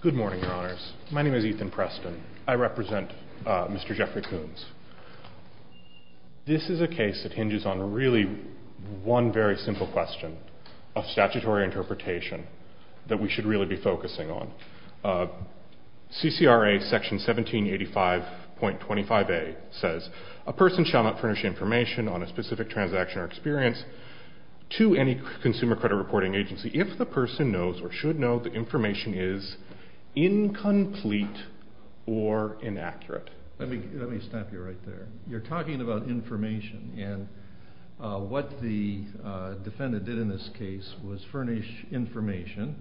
Good morning, Your Honors. My name is Ethan Preston. I represent Mr. Geoffrey Kuns. This is a case that hinges on really one very simple question of statutory interpretation that we should really be focusing on. CCRA Section 1785.25a says, a person shall not furnish information on a specific transaction or experience to any consumer credit reporting agency if the person knows or should know the information is incomplete or inaccurate. Let me stop you right there. You're talking about information and what the defendant did in this case was furnish information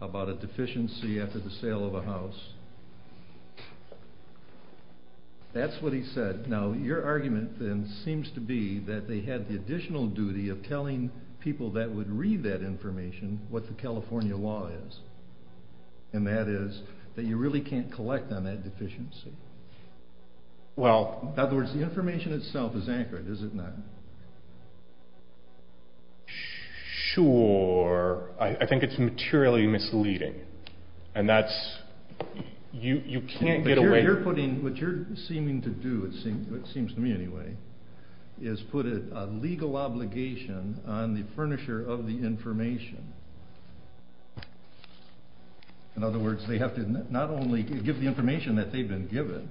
about a deficiency after the sale of a house. That's what he said. Now, your argument then seems to be that they had the additional duty of telling people that would read that information what the California law is. And that is that you really can't collect on that deficiency. In other words, the information itself is inaccurate, is it not? Sure. I think it's materially misleading. And that's, you can't get away... What you're putting, what you're seeming to do, it seems to me anyway, is put a legal obligation on the furnisher of the information. In other words, they have to not only give the information that they've been given,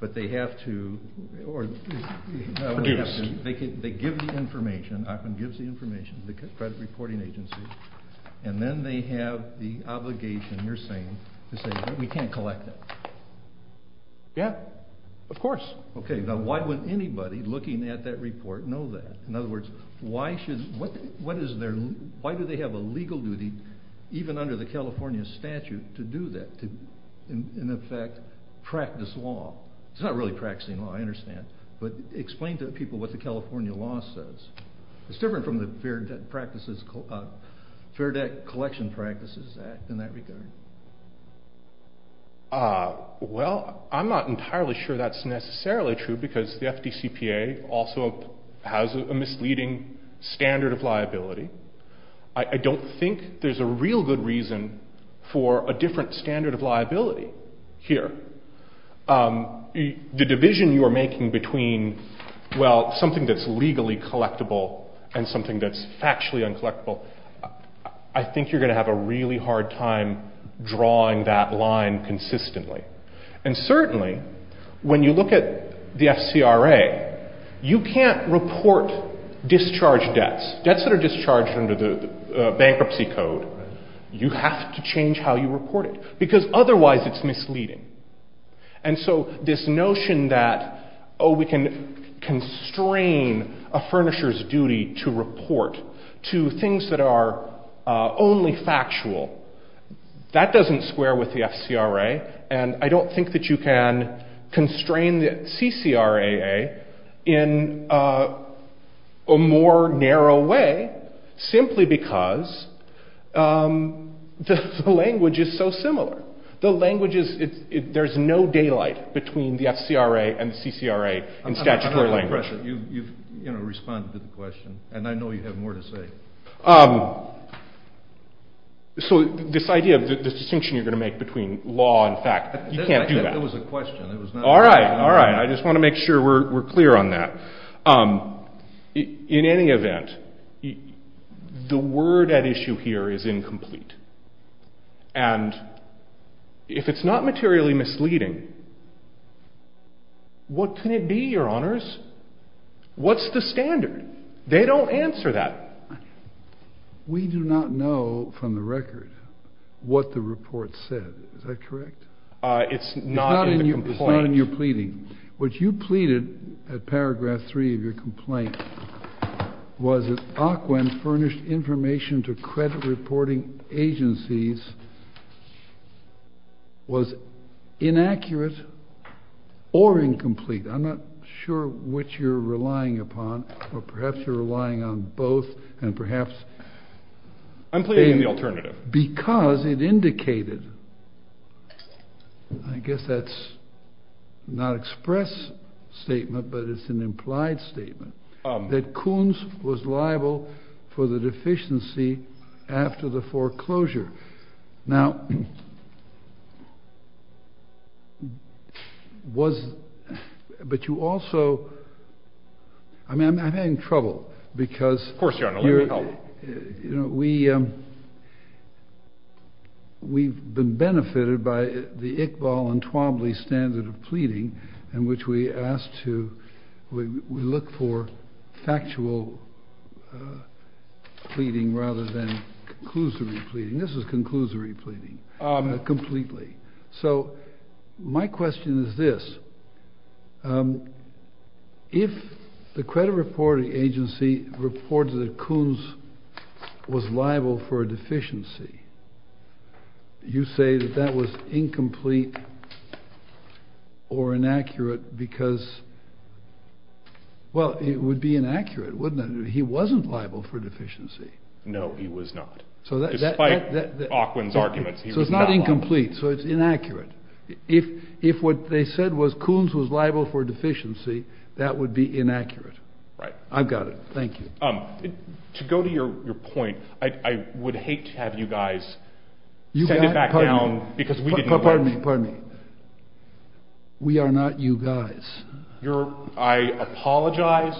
but they have to... Produced. They give the information, often gives the information to the credit reporting agency, and then they have the Of course. Okay. Now, why would anybody looking at that report know that? In other words, why do they have a legal duty, even under the California statute, to do that? To, in effect, practice law? It's not really practicing law, I understand. But explain to people what the California law says. It's different from the Fair Debt Collection Practices Act in that regard. Well, I'm not entirely sure that's necessarily true, because the FDCPA also has a misleading standard of liability. I don't think there's a real good reason for a different standard of liability here. The division you are making between, well, something that's legally collectible and something that's factually uncollectible, I think you're going to have a really hard time drawing that line consistently. And certainly, when you look at the FCRA, you can't report discharge debts. Debts that are discharged under the bankruptcy code, you have to change how you report it, because otherwise it's misleading. And so, this notion that, oh, we can constrain a furnisher's duty to report to things that are only factual, that doesn't square with the FCRA. And I don't think that you can constrain the CCRA in a more narrow way simply because the language is so similar. There's no daylight between the FCRA and the CCRA in statutory language. You've responded to the question, and I know you have more to say. So, this idea of the distinction you're going to make between law and fact, you can't do that. It was a question. All right. All right. I just want to make sure we're clear on that. In any event, the word at issue here is incomplete. And if it's not materially misleading, what can it be, your honors? What's the standard? They don't answer that. We do not know, from the record, what the report said. Is that correct? It's not in the complaint. It's not in your pleading. What you pleaded at paragraph three of your complaint was that OCWEN furnished information to credit reporting agencies, was inaccurate or incomplete. I'm not sure which you're relying upon, or perhaps you're relying on both, and perhaps... I'm pleading in the alternative. ...because it indicated, I guess that's not express statement, but it's an implied statement, that Kuhn's was liable for the deficiency after the foreclosure. Now, was...but you also...I mean, I'm having trouble because... Of course, your honor, let me help. You know, we've been benefited by the Iqbal and Twombly standard of pleading, in which we asked to...we look for factual pleading rather than conclusively pleading. This is conclusively pleading, completely. So, my question is this. If the credit reporting agency reports that Kuhn's was liable for a deficiency, you say that that was incomplete or inaccurate because... Well, it would be inaccurate, wouldn't it? He wasn't liable for deficiency. No, he was not. Despite Auckland's arguments, he was not liable. So, it's not incomplete. So, it's inaccurate. If what they said was Kuhn's was liable for deficiency, that would be inaccurate. Right. I've got it. Thank you. To go to your point, I would hate to have you guys send it back down because we didn't... Pardon me, pardon me. We are not you guys. I apologize.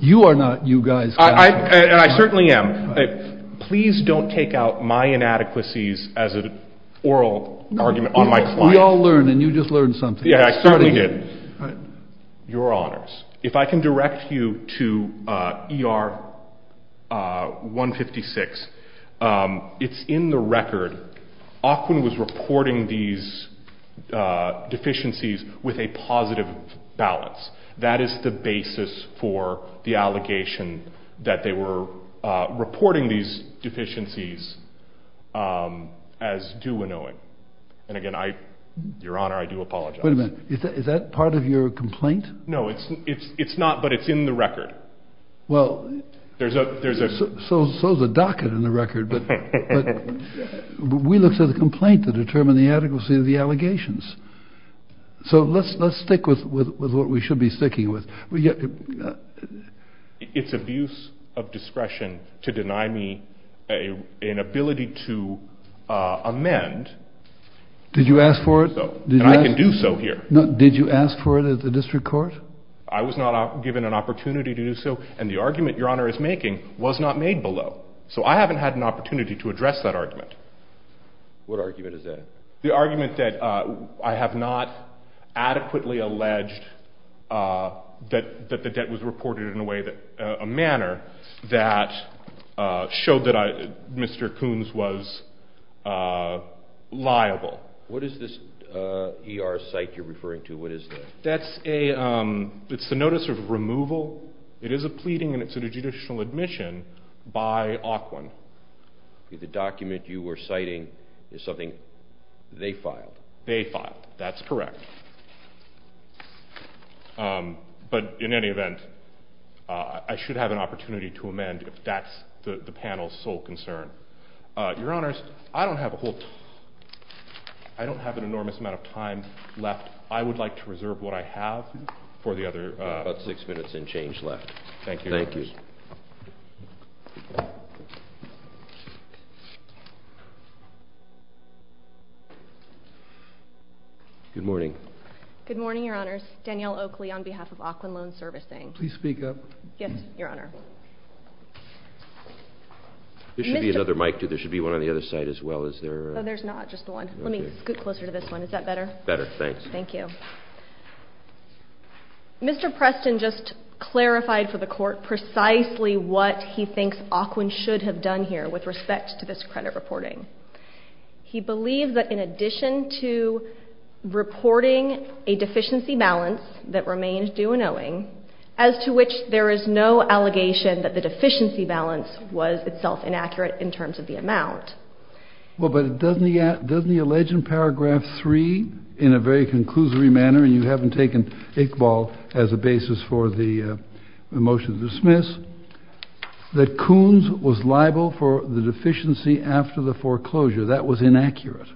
You are not you guys. I certainly am. Please don't take out my inadequacies as an oral argument on my client. We all learn and you just learned something. Yeah, I certainly did. Your Honours, if I can direct you to ER 156. It's in the record. Auckland was reporting these deficiencies with a positive balance. That is the basis for the allegation that they were reporting these deficiencies as do we know it. And again, Your Honour, I do apologize. Wait a minute. Is that part of your complaint? No, it's not, but it's in the record. Well, so is the docket in the record, but we look to the complaint to determine the adequacy of the allegations. So let's stick with what we should be sticking with. It's abuse of discretion to deny me an ability to amend. Did you ask for it? And I can do so here. Did you ask for it at the district court? I was not given an opportunity to do so. And the argument Your Honour is making was not made below. So I haven't had an opportunity to address that argument. What argument is that? The argument that I have not adequately alleged that the debt was reported in a manner that showed that Mr. Coons was liable. What is this ER site you're referring to? What is that? That's a notice of removal. It is a pleading and it's a judicial admission by Auckland. The document you were citing is something they filed. They filed. That's correct. But in any event, I should have an opportunity to amend if that's the panel's sole concern. Your Honours, I don't have a whole... I don't have an enormous amount of time left. I would like to reserve what I have for the other... About six minutes and change left. Thank you. Thank you. Thank you. Good morning. Good morning, Your Honours. Danielle Oakley on behalf of Auckland Loan Servicing. Please speak up. Yes, Your Honour. There should be another mic too. There should be one on the other side as well. Is there... No, there's not. Just the one. Let me scoot closer to this one. Is that better? Better. Thanks. Thank you. Thank you. Mr. Preston just clarified for the Court precisely what he thinks Auckland should have done here with respect to this credit reporting. He believes that in addition to reporting a deficiency balance that remains due and owing, as to which there is no allegation that the deficiency balance was itself inaccurate in terms of the amount. Well, but doesn't he allege in paragraph three in a very conclusory manner, and you haven't taken Iqbal as a basis for the motion to dismiss, that Coons was liable for the deficiency after the foreclosure. That was inaccurate.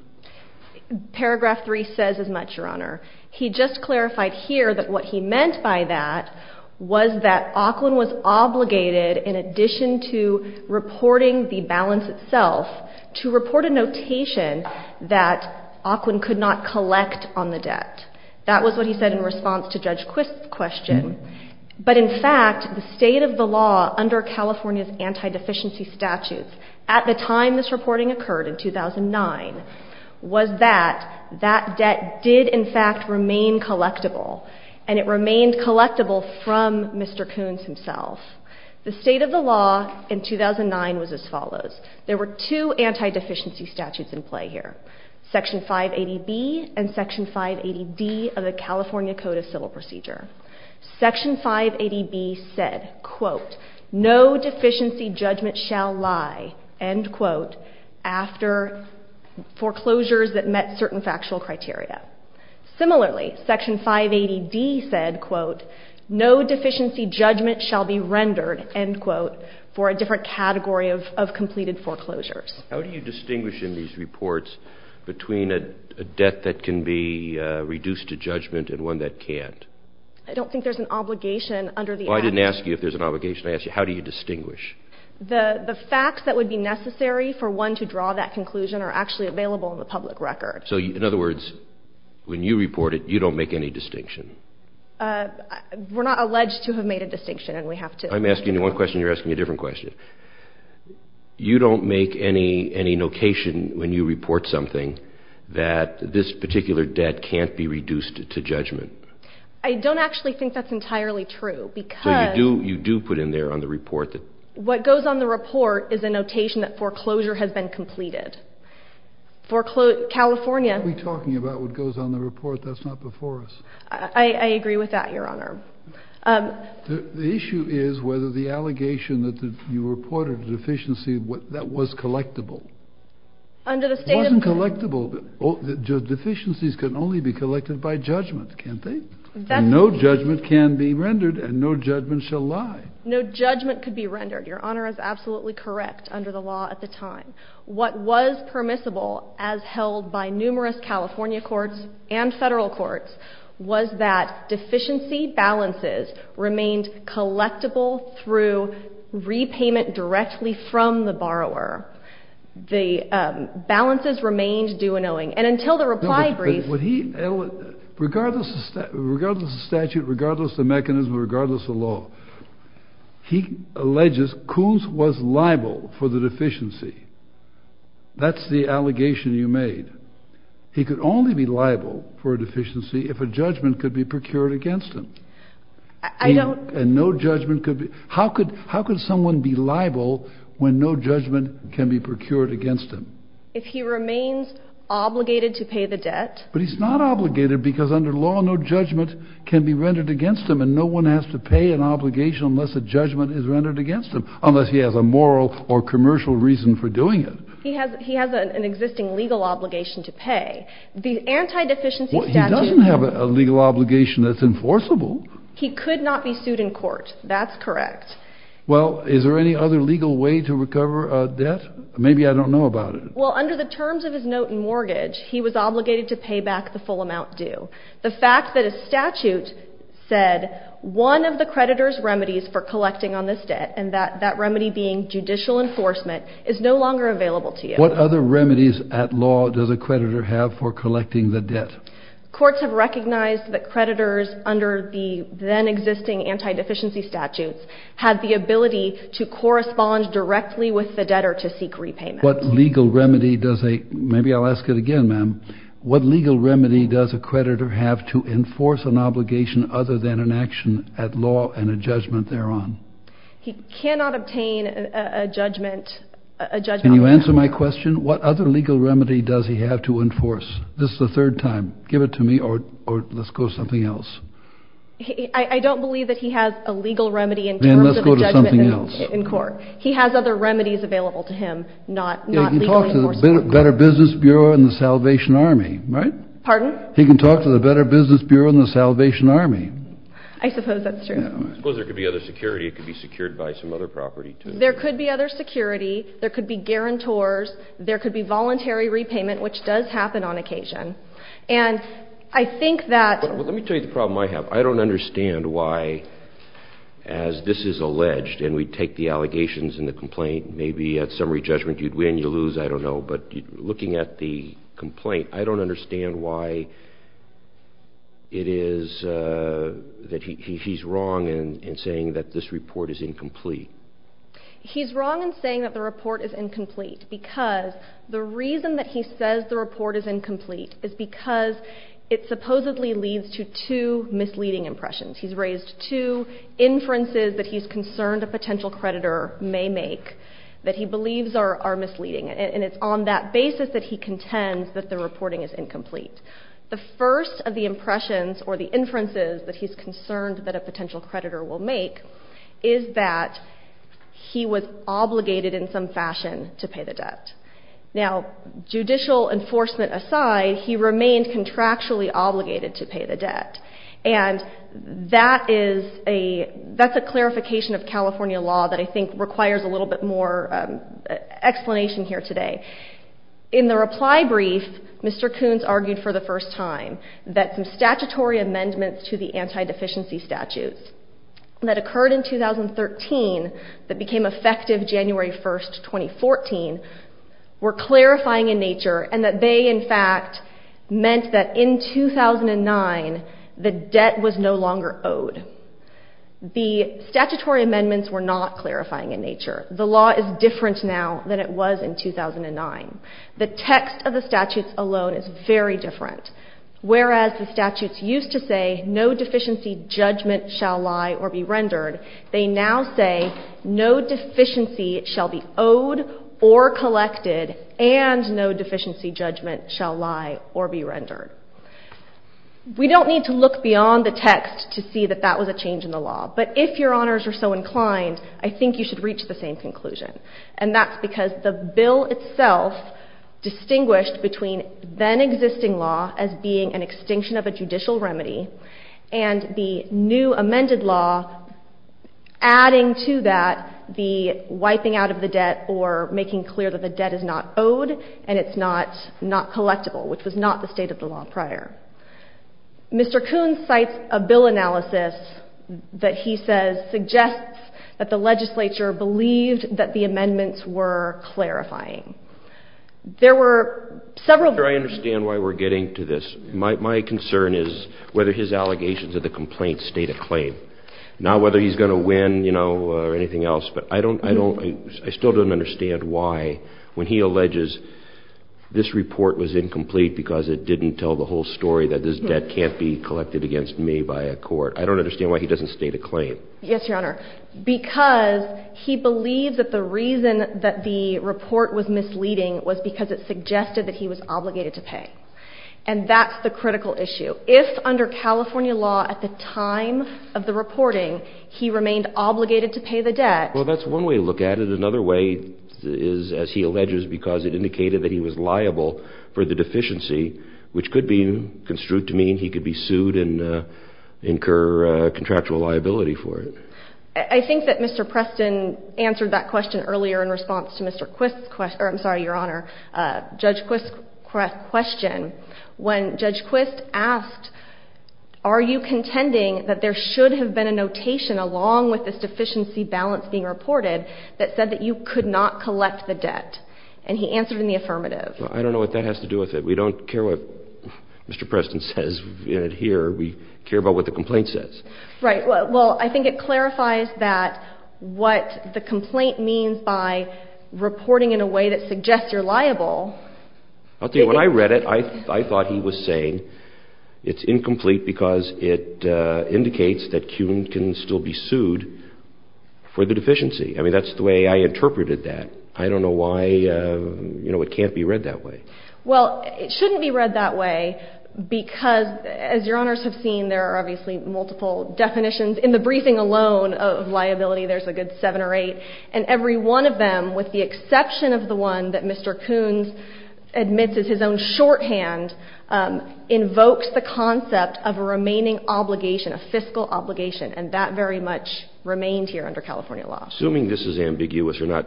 Paragraph three says as much, Your Honour. He just clarified here that what he meant by that was that Auckland was obligated in addition to reporting the balance itself to report a notation that Auckland could not collect on the debt. That was what he said in response to Judge Quist's question. But in fact, the state of the law under California's anti-deficiency statutes at the time this reporting occurred in 2009 was that that did in fact remain collectible, and it remained collectible from Mr. Coons himself. The state of the law in 2009 was as follows. There were two anti-deficiency statutes in play here, Section 580B and Section 580D of the California Code of Civil Procedure. Section 580B said, quote, No deficiency judgment shall lie, end quote, after foreclosures that certain factual criteria. Similarly, Section 580D said, quote, No deficiency judgment shall be rendered, end quote, for a different category of completed foreclosures. How do you distinguish in these reports between a debt that can be reduced to judgment and one that can't? I don't think there's an obligation under the act. Well, I didn't ask you if there's an obligation. I asked you how do you distinguish? The facts that would be necessary for one to draw that conclusion are actually available in the public record. So in other words, when you report it, you don't make any distinction. We're not alleged to have made a distinction, and we have to... I'm asking you one question. You're asking a different question. You don't make any notation when you report something that this particular debt can't be reduced to judgment. I don't actually think that's entirely true because... So you do put in there on the report that... What goes on the report is a notation that foreclosure has been completed. California... We're talking about what goes on the report. That's not before us. I agree with that, Your Honor. The issue is whether the allegation that you reported a deficiency, that was collectible. Under the state of... It wasn't collectible. Deficiencies can only be collected by judgment, can't they? No judgment can be rendered, and no judgment shall lie. No judgment could be rendered. Your Honor is absolutely correct under the law at the time. What was permissible, as held by numerous California courts and federal courts, was that deficiency balances remained collectible through repayment directly from the borrower. The balances remained due and owing, and until the reply brief... But regardless of statute, regardless of mechanism, regardless of law, he alleges Cools was liable for the deficiency. That's the allegation you made. He could only be liable for a deficiency if a judgment could be procured against him. I don't... And no judgment could be... How could someone be liable when no judgment can be procured against him? If he remains obligated to pay the debt. But he's not obligated because under law, no judgment can be rendered against him, and no one has to pay an obligation unless a judgment is rendered against him, unless he has a moral or commercial reason for doing it. He has an existing legal obligation to pay. The anti-deficiency statute... Well, he doesn't have a legal obligation that's enforceable. He could not be sued in court. That's correct. Well, is there any other legal way to recover a debt? Maybe I don't know about it. Well, under the terms of his note and mortgage, he was obligated to pay back the full amount due. The fact that a statute said one of the creditor's remedies for collecting on this debt, and that remedy being judicial enforcement, is no longer available to you. What other remedies at law does a creditor have for collecting the debt? Courts have recognized that creditors under the then-existing anti-deficiency statutes had the ability to correspond directly with the debtor to seek repayment. What legal remedy does a... Maybe I'll ask it again, ma'am. What legal remedy does a creditor have to enforce an obligation other than an action at law and a judgment thereon? He cannot obtain a judgment... Can you answer my question? What other legal remedy does he have to enforce? This is the third time. Give it to me, or let's go to something else. I don't believe that he has a legal remedy in terms of a judgment in court. He has other remedies available to him, not legally enforceable. Better Business Bureau and the Salvation Army, right? Pardon? He can talk to the Better Business Bureau and the Salvation Army. I suppose that's true. I suppose there could be other security. It could be secured by some other property, too. There could be other security. There could be guarantors. There could be voluntary repayment, which does happen on occasion. And I think that... Let me tell you the problem I have. I don't understand why, as this is alleged, and we take the allegations in the complaint, maybe at summary judgment you'd win, you'd lose, I don't know. But looking at the complaint, I don't understand why it is that he's wrong in saying that this report is incomplete. He's wrong in saying that the report is incomplete because the reason that he says the report is incomplete is because it supposedly leads to two misleading impressions. He's raised two inferences that he's concerned a potential creditor may make that he believes are misleading. And it's on that basis that he contends that the reporting is incomplete. The first of the impressions or the inferences that he's concerned that a potential creditor will make is that he was obligated in some fashion to pay the debt. Now, judicial enforcement aside, he remained contractually obligated to pay the debt. And that is a... That's a clarification of California law that I think requires a little bit more explanation here today. In the reply brief, Mr. Koontz argued for the first time that some statutory amendments to the anti-deficiency statutes that occurred in 2013 that became effective January 1st, 2014, were clarifying in nature and that they, in fact, meant that in 2009, the debt was no longer owed. The statutory amendments were not clarifying in nature. The law is different now than it was in 2009. The text of the statutes alone is very different. Whereas the statutes used to say no deficiency judgment shall lie or be rendered, they now say no deficiency shall be owed or collected and no deficiency judgment shall lie or be rendered. We don't need to look beyond the text to see that that was a change in the law. But if your honors are so inclined, I think you should reach the same conclusion. And that's because the bill itself distinguished between then existing law as being an extinction of a judicial remedy and the new amended law adding to that the wiping out of the debt or making clear that the debt is not owed and it's not collectible, which was not the state of the law prior. Mr. Kuhn cites a bill analysis that he says suggests that the legislature believed that the amendments were clarifying. There were several... I understand why we're getting to this. My concern is whether his allegations of the complaints state a claim. Not whether he's going to win, you know, or anything else. But I still don't understand why when he alleges this report was incomplete because it didn't tell the whole story that this debt can't be collected against me by a court. I don't understand why he doesn't state a claim. Yes, your honor. Because he believed that the reason that the report was misleading was because it suggested that he was obligated to pay. And that's the critical issue. If under California law at the time of the reporting, he remained obligated to pay the debt... Well, that's one way to look at it. Another way is, as he alleges, because it indicated that he was liable for the deficiency, which could be construed to mean he could be sued and incur contractual liability for it. I think that Mr. Preston answered that question earlier in response to Mr. Quist's question... I'm sorry, your honor. Judge Quist's question, when Judge Quist asked, are you contending that there should have been a notation along with this deficiency balance being reported that said that you could not collect the debt? And he answered in the affirmative. I don't know what that has to do with it. We don't care what Mr. Preston says here. We care about what the complaint says. Right. Well, I think it clarifies that what the complaint means by reporting in a way that suggests you're liable... I'll tell you, when I read it, I thought he was saying it's incomplete because it indicates that Kuhn can still be sued for the deficiency. I mean, that's the way I interpreted that. I don't know why, you know, it can't be read that way. Well, it shouldn't be read that way because, as your honors have seen, there are obviously multiple definitions. In the briefing alone of liability, there's a good seven or eight. And every one of them, with the exception of the one that Mr. Kuhn admits is his own shorthand, invokes the concept of a remaining obligation, a fiscal obligation, and that very much remained here under California law. Assuming this is ambiguous or not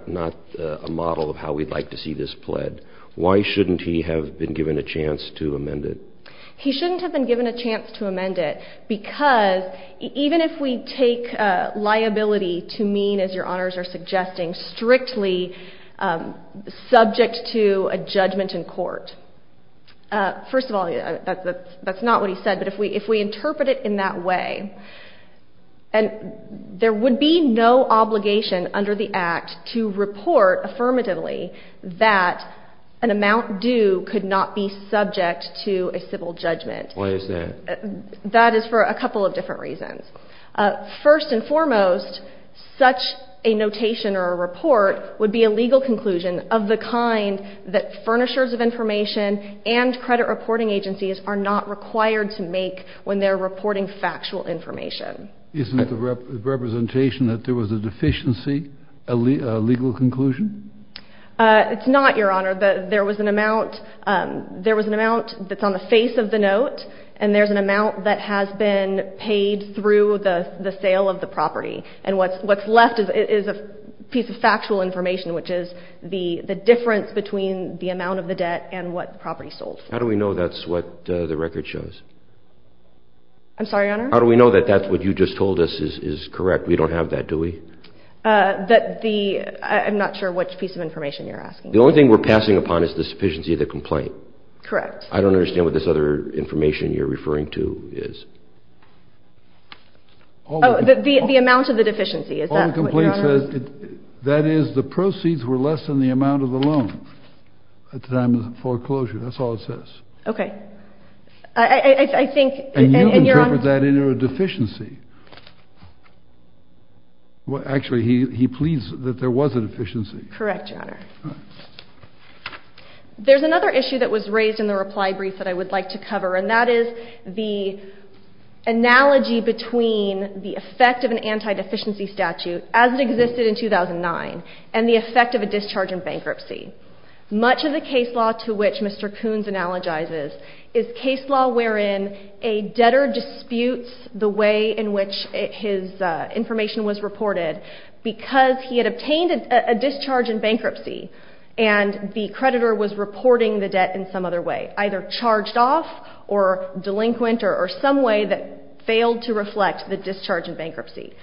a model of how we'd like to see this pled, why shouldn't he have been given a chance to amend it? He shouldn't have been given a chance to amend it because even if we take liability to mean, as your honors are suggesting, strictly subject to a judgment in court. First of all, that's not what he said, but if we interpret it in that way, and there would be no obligation under the act to report affirmatively that an amount due could not be subject to a civil judgment. Why is that? That is for a couple of different reasons. First and foremost, such a notation or a report would be a legal conclusion of the kind that furnishers of information and credit reporting agencies are not required to make when they're reporting factual information. Isn't the representation that there was a deficiency a legal conclusion? It's not, your honor. There was an amount that's on the face of the note, and there's an amount that has been paid through the sale of the property, and what's left is a piece of factual information, which is the difference between the amount of the debt and what the property sold. How do we know that's what the record shows? I'm sorry, your honor? How do we know that that's what you just told us is correct? We don't have that, do we? I'm not sure which piece of information you're asking. The only thing we're passing upon is the sufficiency of the complaint. Correct. I don't understand what this other information you're referring to is. Oh, the amount of the deficiency. Is that what your honor says? That is, the proceeds were less than the amount of the loan at the time of the foreclosure. That's all it says. Okay. I think... And you interpret that into a deficiency. Actually, he pleads that there was a deficiency. Correct, your honor. There's another issue that was raised in the reply brief that I would like to cover, and that is the analogy between the effect of an anti-deficiency statute, as it existed in 2009, and the effect of a discharge in bankruptcy. Much of the case law to which Mr. Koons analogizes is case law wherein a debtor disputes the way in which his information was reported because he had obtained a discharge in bankruptcy and the creditor was reporting the debt in some other way, either charged off or delinquent or some way that failed to reflect the discharge in bankruptcy.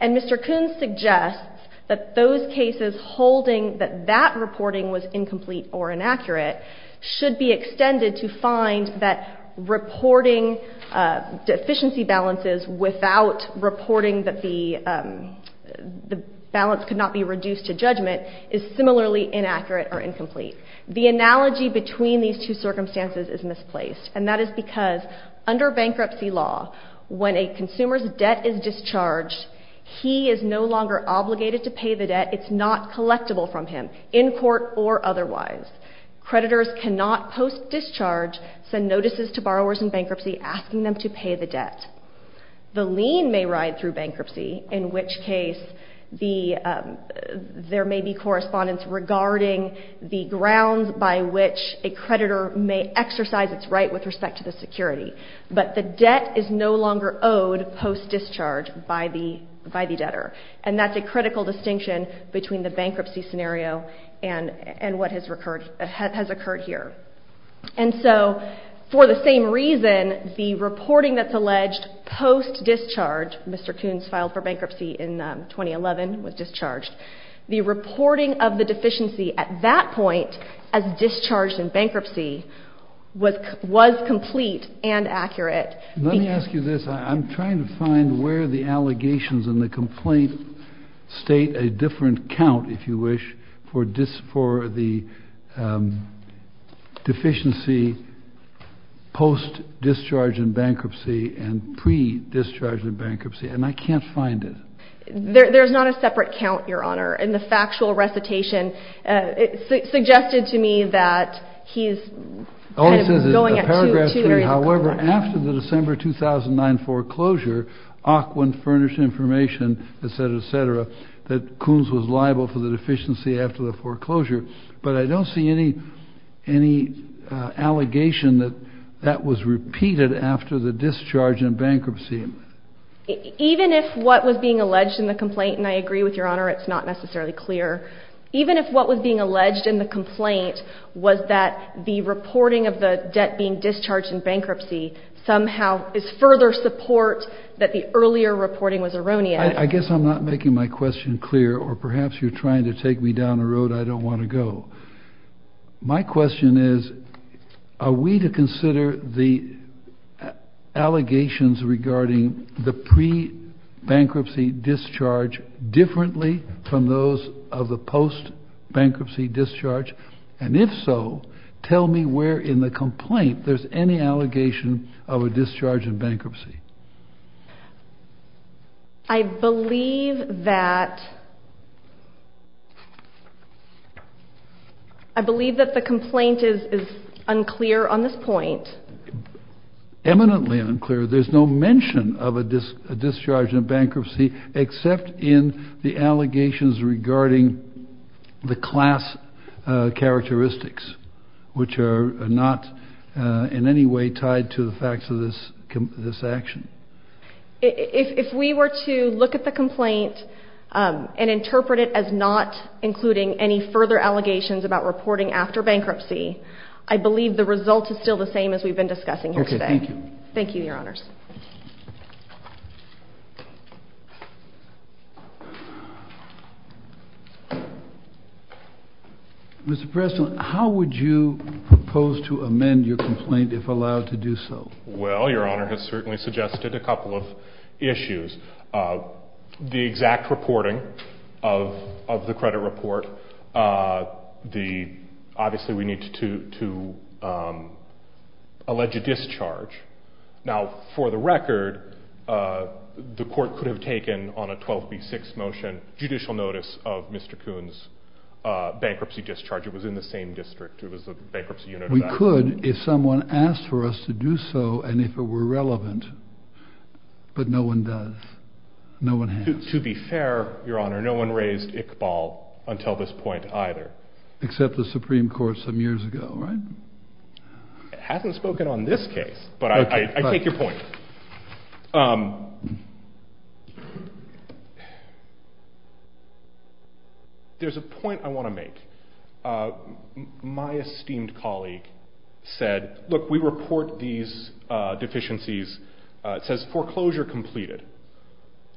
And Mr. Koons suggests that those cases holding that that reporting was incomplete or inaccurate should be extended to find that reporting deficiency balances without reporting that the balance could not be reduced to judgment is similarly inaccurate or incomplete. The analogy between these two circumstances is misplaced. And that is because under bankruptcy law, when a consumer's debt is discharged, he is no longer obligated to pay the debt. It's not collectible from him in court or otherwise. Creditors cannot post-discharge send notices to borrowers in bankruptcy asking them to pay the debt. The lien may ride through bankruptcy, in which case the there may be correspondence regarding the grounds by which a creditor may exercise its right with respect to the security. But the debt is no longer owed post-discharge by the debtor. And that's a critical distinction between the bankruptcy scenario and what has occurred here. And so for the same reason, the reporting that's alleged post-discharge, Mr. Koons filed for bankruptcy in 2011, was discharged. The reporting of the deficiency at that point, as discharged in bankruptcy, was complete and accurate. Let me ask you this. I'm trying to find where the allegations in the complaint state a different count, if you wish, for the deficiency post-discharge in bankruptcy and pre-discharge in bankruptcy. And I can't find it. There's not a separate count, Your Honor. In the factual recitation, it suggested to me that he's going at two areas of contrast. However, after the December 2009 foreclosure, Ockwin furnished information, et cetera, that Koons was liable for the deficiency after the foreclosure. But I don't see any allegation that that was repeated after the discharge in bankruptcy. Even if what was being alleged in the complaint, and I agree with Your Honor, it's not necessarily clear. Even if what was being alleged in the complaint was that the reporting of the debt being discharged in bankruptcy somehow is further support that the earlier reporting was erroneous. I guess I'm not making my question clear, or perhaps you're trying to take me down a road I don't want to go. My question is, are we to consider the allegations regarding the pre-bankruptcy discharge differently from those of the post-bankruptcy discharge? And if so, tell me where in the complaint there's any allegation of a discharge in bankruptcy. I believe that the complaint is unclear on this point. Eminently unclear. There's no mention of a discharge in bankruptcy except in the allegations regarding the class characteristics, which are not in any way tied to the facts of this action. If we were to look at the complaint and interpret it as not including any further allegations about reporting after bankruptcy, I believe the result is still the same as we've been discussing here today. Thank you, Your Honors. Mr. Preston, how would you propose to amend your complaint if allowed to do so? Well, Your Honor has certainly suggested a couple of issues. The exact reporting of the credit report, obviously we need to allege a discharge. Now, for the record, the court could have taken on a 12B6 motion judicial notice of Mr. Kuhn's bankruptcy discharge. It was in the same district. It was a bankruptcy unit. We could if someone asked for us to do so and if it were relevant, but no one does. No one has. To be fair, Your Honor, no one raised Iqbal until this point either. Except the Supreme Court some years ago, right? It hasn't spoken on this case, but I take your point. There's a point I want to make. My esteemed colleague said, look, we report these deficiencies. It says foreclosure completed.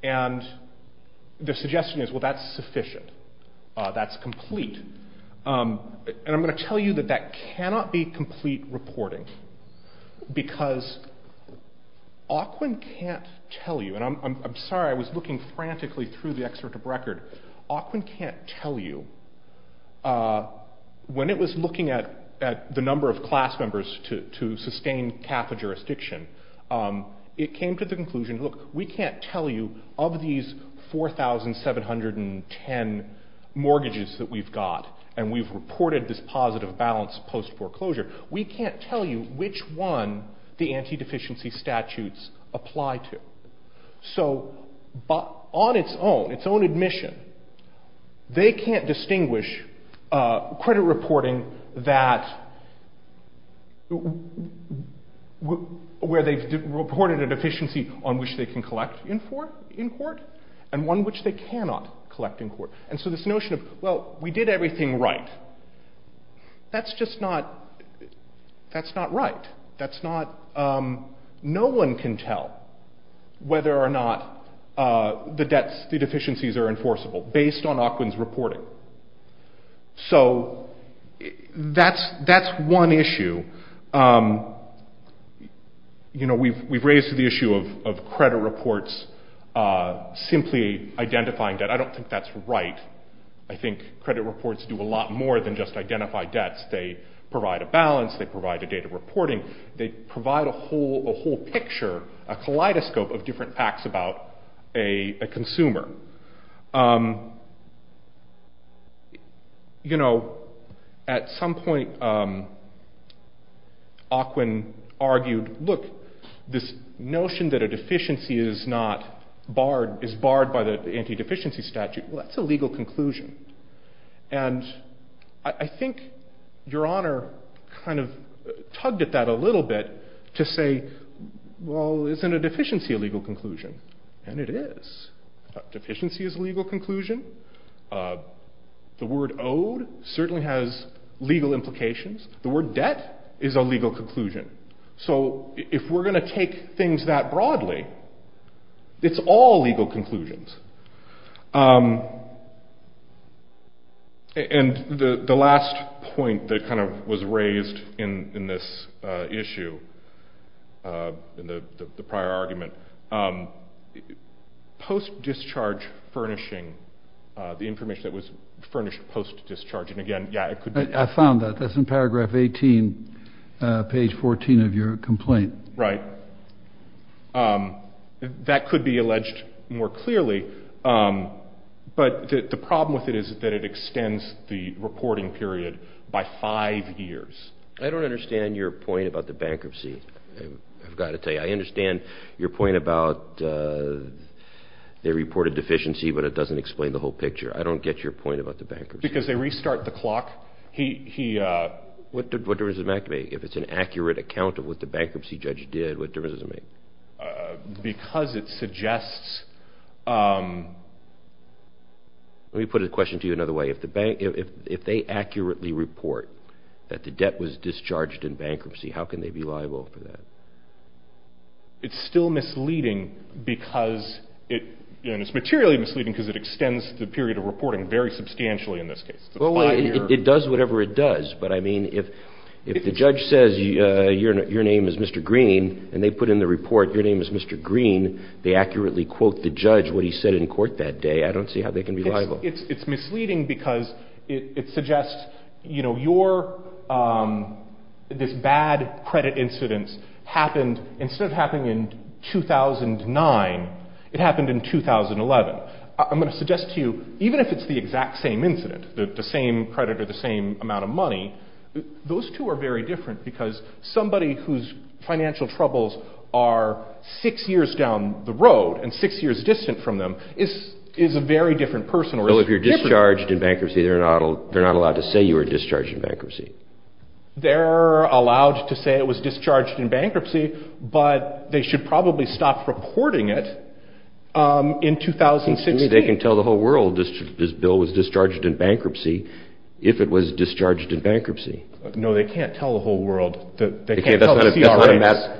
And the suggestion is, well, that's sufficient. That's complete. And I'm going to tell you that that cannot be complete reporting because Aukwin can't tell you, and I'm sorry, I was looking frantically through the excerpt of record. Aukwin can't tell you. When it was looking at the number of class members to sustain CAFA jurisdiction, it came to the conclusion, look, we can't tell you of these 4,710 mortgages that we've got and we've reported this positive balance post foreclosure. We can't tell you which one the anti-deficiency statutes apply to. So on its own, its own admission, they can't distinguish credit reporting that where they've reported a deficiency on which they can collect in court and one which they cannot collect in court. And so this notion of, well, we did everything right. That's just not, that's not right. That's not, no one can tell whether or not the debts, the deficiencies are enforceable based on Aukwin's reporting. So that's one issue. You know, we've raised the issue of credit reports simply identifying debt. I don't think that's right. I think credit reports do a lot more than just identify debts. They provide a balance. They provide a data reporting. They provide a whole, a whole picture, a kaleidoscope of different facts about a consumer. You know, at some point, Aukwin argued, look, this notion that a deficiency is not a deficiency statute, well, that's a legal conclusion. And I think Your Honor kind of tugged at that a little bit to say, well, isn't a deficiency a legal conclusion? And it is. Deficiency is a legal conclusion. The word owed certainly has legal implications. The word debt is a legal conclusion. So if we're going to take things that broadly, it's all legal conclusions. And the last point that kind of was raised in this issue, in the prior argument, post-discharge furnishing, the information that was furnished post-discharge. And again, yeah, it could be. I found that. That's in paragraph 18, page 14 of your complaint. Right. Um, that could be alleged more clearly. Um, but the problem with it is that it extends the reporting period by five years. I don't understand your point about the bankruptcy. I've got to tell you, I understand your point about, uh, they reported deficiency, but it doesn't explain the whole picture. I don't get your point about the bankruptcy. Because they restart the clock. He, he, uh. What difference does it make to me if it's an accurate account of what the bankruptcy judge did? What difference does it make? Because it suggests, um. Let me put a question to you another way. If the bank, if, if they accurately report that the debt was discharged in bankruptcy, how can they be liable for that? It's still misleading because it, and it's materially misleading because it extends the period of reporting very substantially in this case. Well, it does whatever it does. But I mean, if, if the judge says, uh, your, your name is Mr. Green and they put in the report, your name is Mr. Green. They accurately quote the judge, what he said in court that day. I don't see how they can be liable. It's, it's misleading because it suggests, you know, your, um, this bad credit incidents happened instead of happening in 2009, it happened in 2011. I'm going to suggest to you, even if it's the exact same incident, the same credit or same amount of money, those two are very different because somebody whose financial troubles are six years down the road and six years distant from them is, is a very different person. So if you're discharged in bankruptcy, they're not, they're not allowed to say you were discharged in bankruptcy. They're allowed to say it was discharged in bankruptcy, but they should probably stop reporting it, um, in 2016. They can tell the whole world this, this bill was discharged in bankruptcy. If it was discharged in bankruptcy. No, they can't tell the whole world that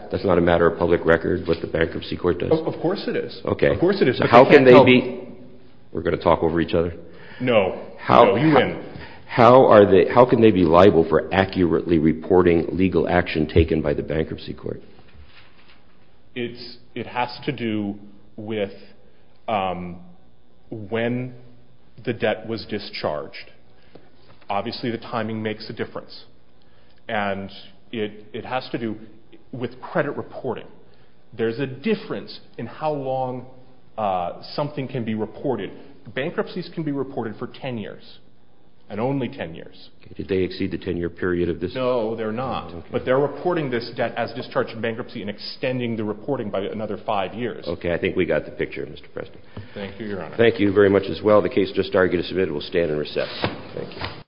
that's not a matter of public record, but the bankruptcy court does. Of course it is. Okay. Of course it is. How can they be, we're going to talk over each other. No. How, how are they, how can they be liable for accurately reporting legal action taken by the bankruptcy court? It's, it has to do with, um, when the debt was discharged. Obviously the timing makes a difference and it, it has to do with credit reporting. There's a difference in how long, uh, something can be reported. Bankruptcies can be reported for 10 years and only 10 years. Did they exceed the 10 year period of this? No, they're not. But they're reporting this debt as discharged bankruptcy and extending the reporting by another five years. Okay. I think we got the picture, Mr. President. Thank you, Your Honor. Thank you very much as well. The case just argued is submitted. We'll stand and recess. Thank you.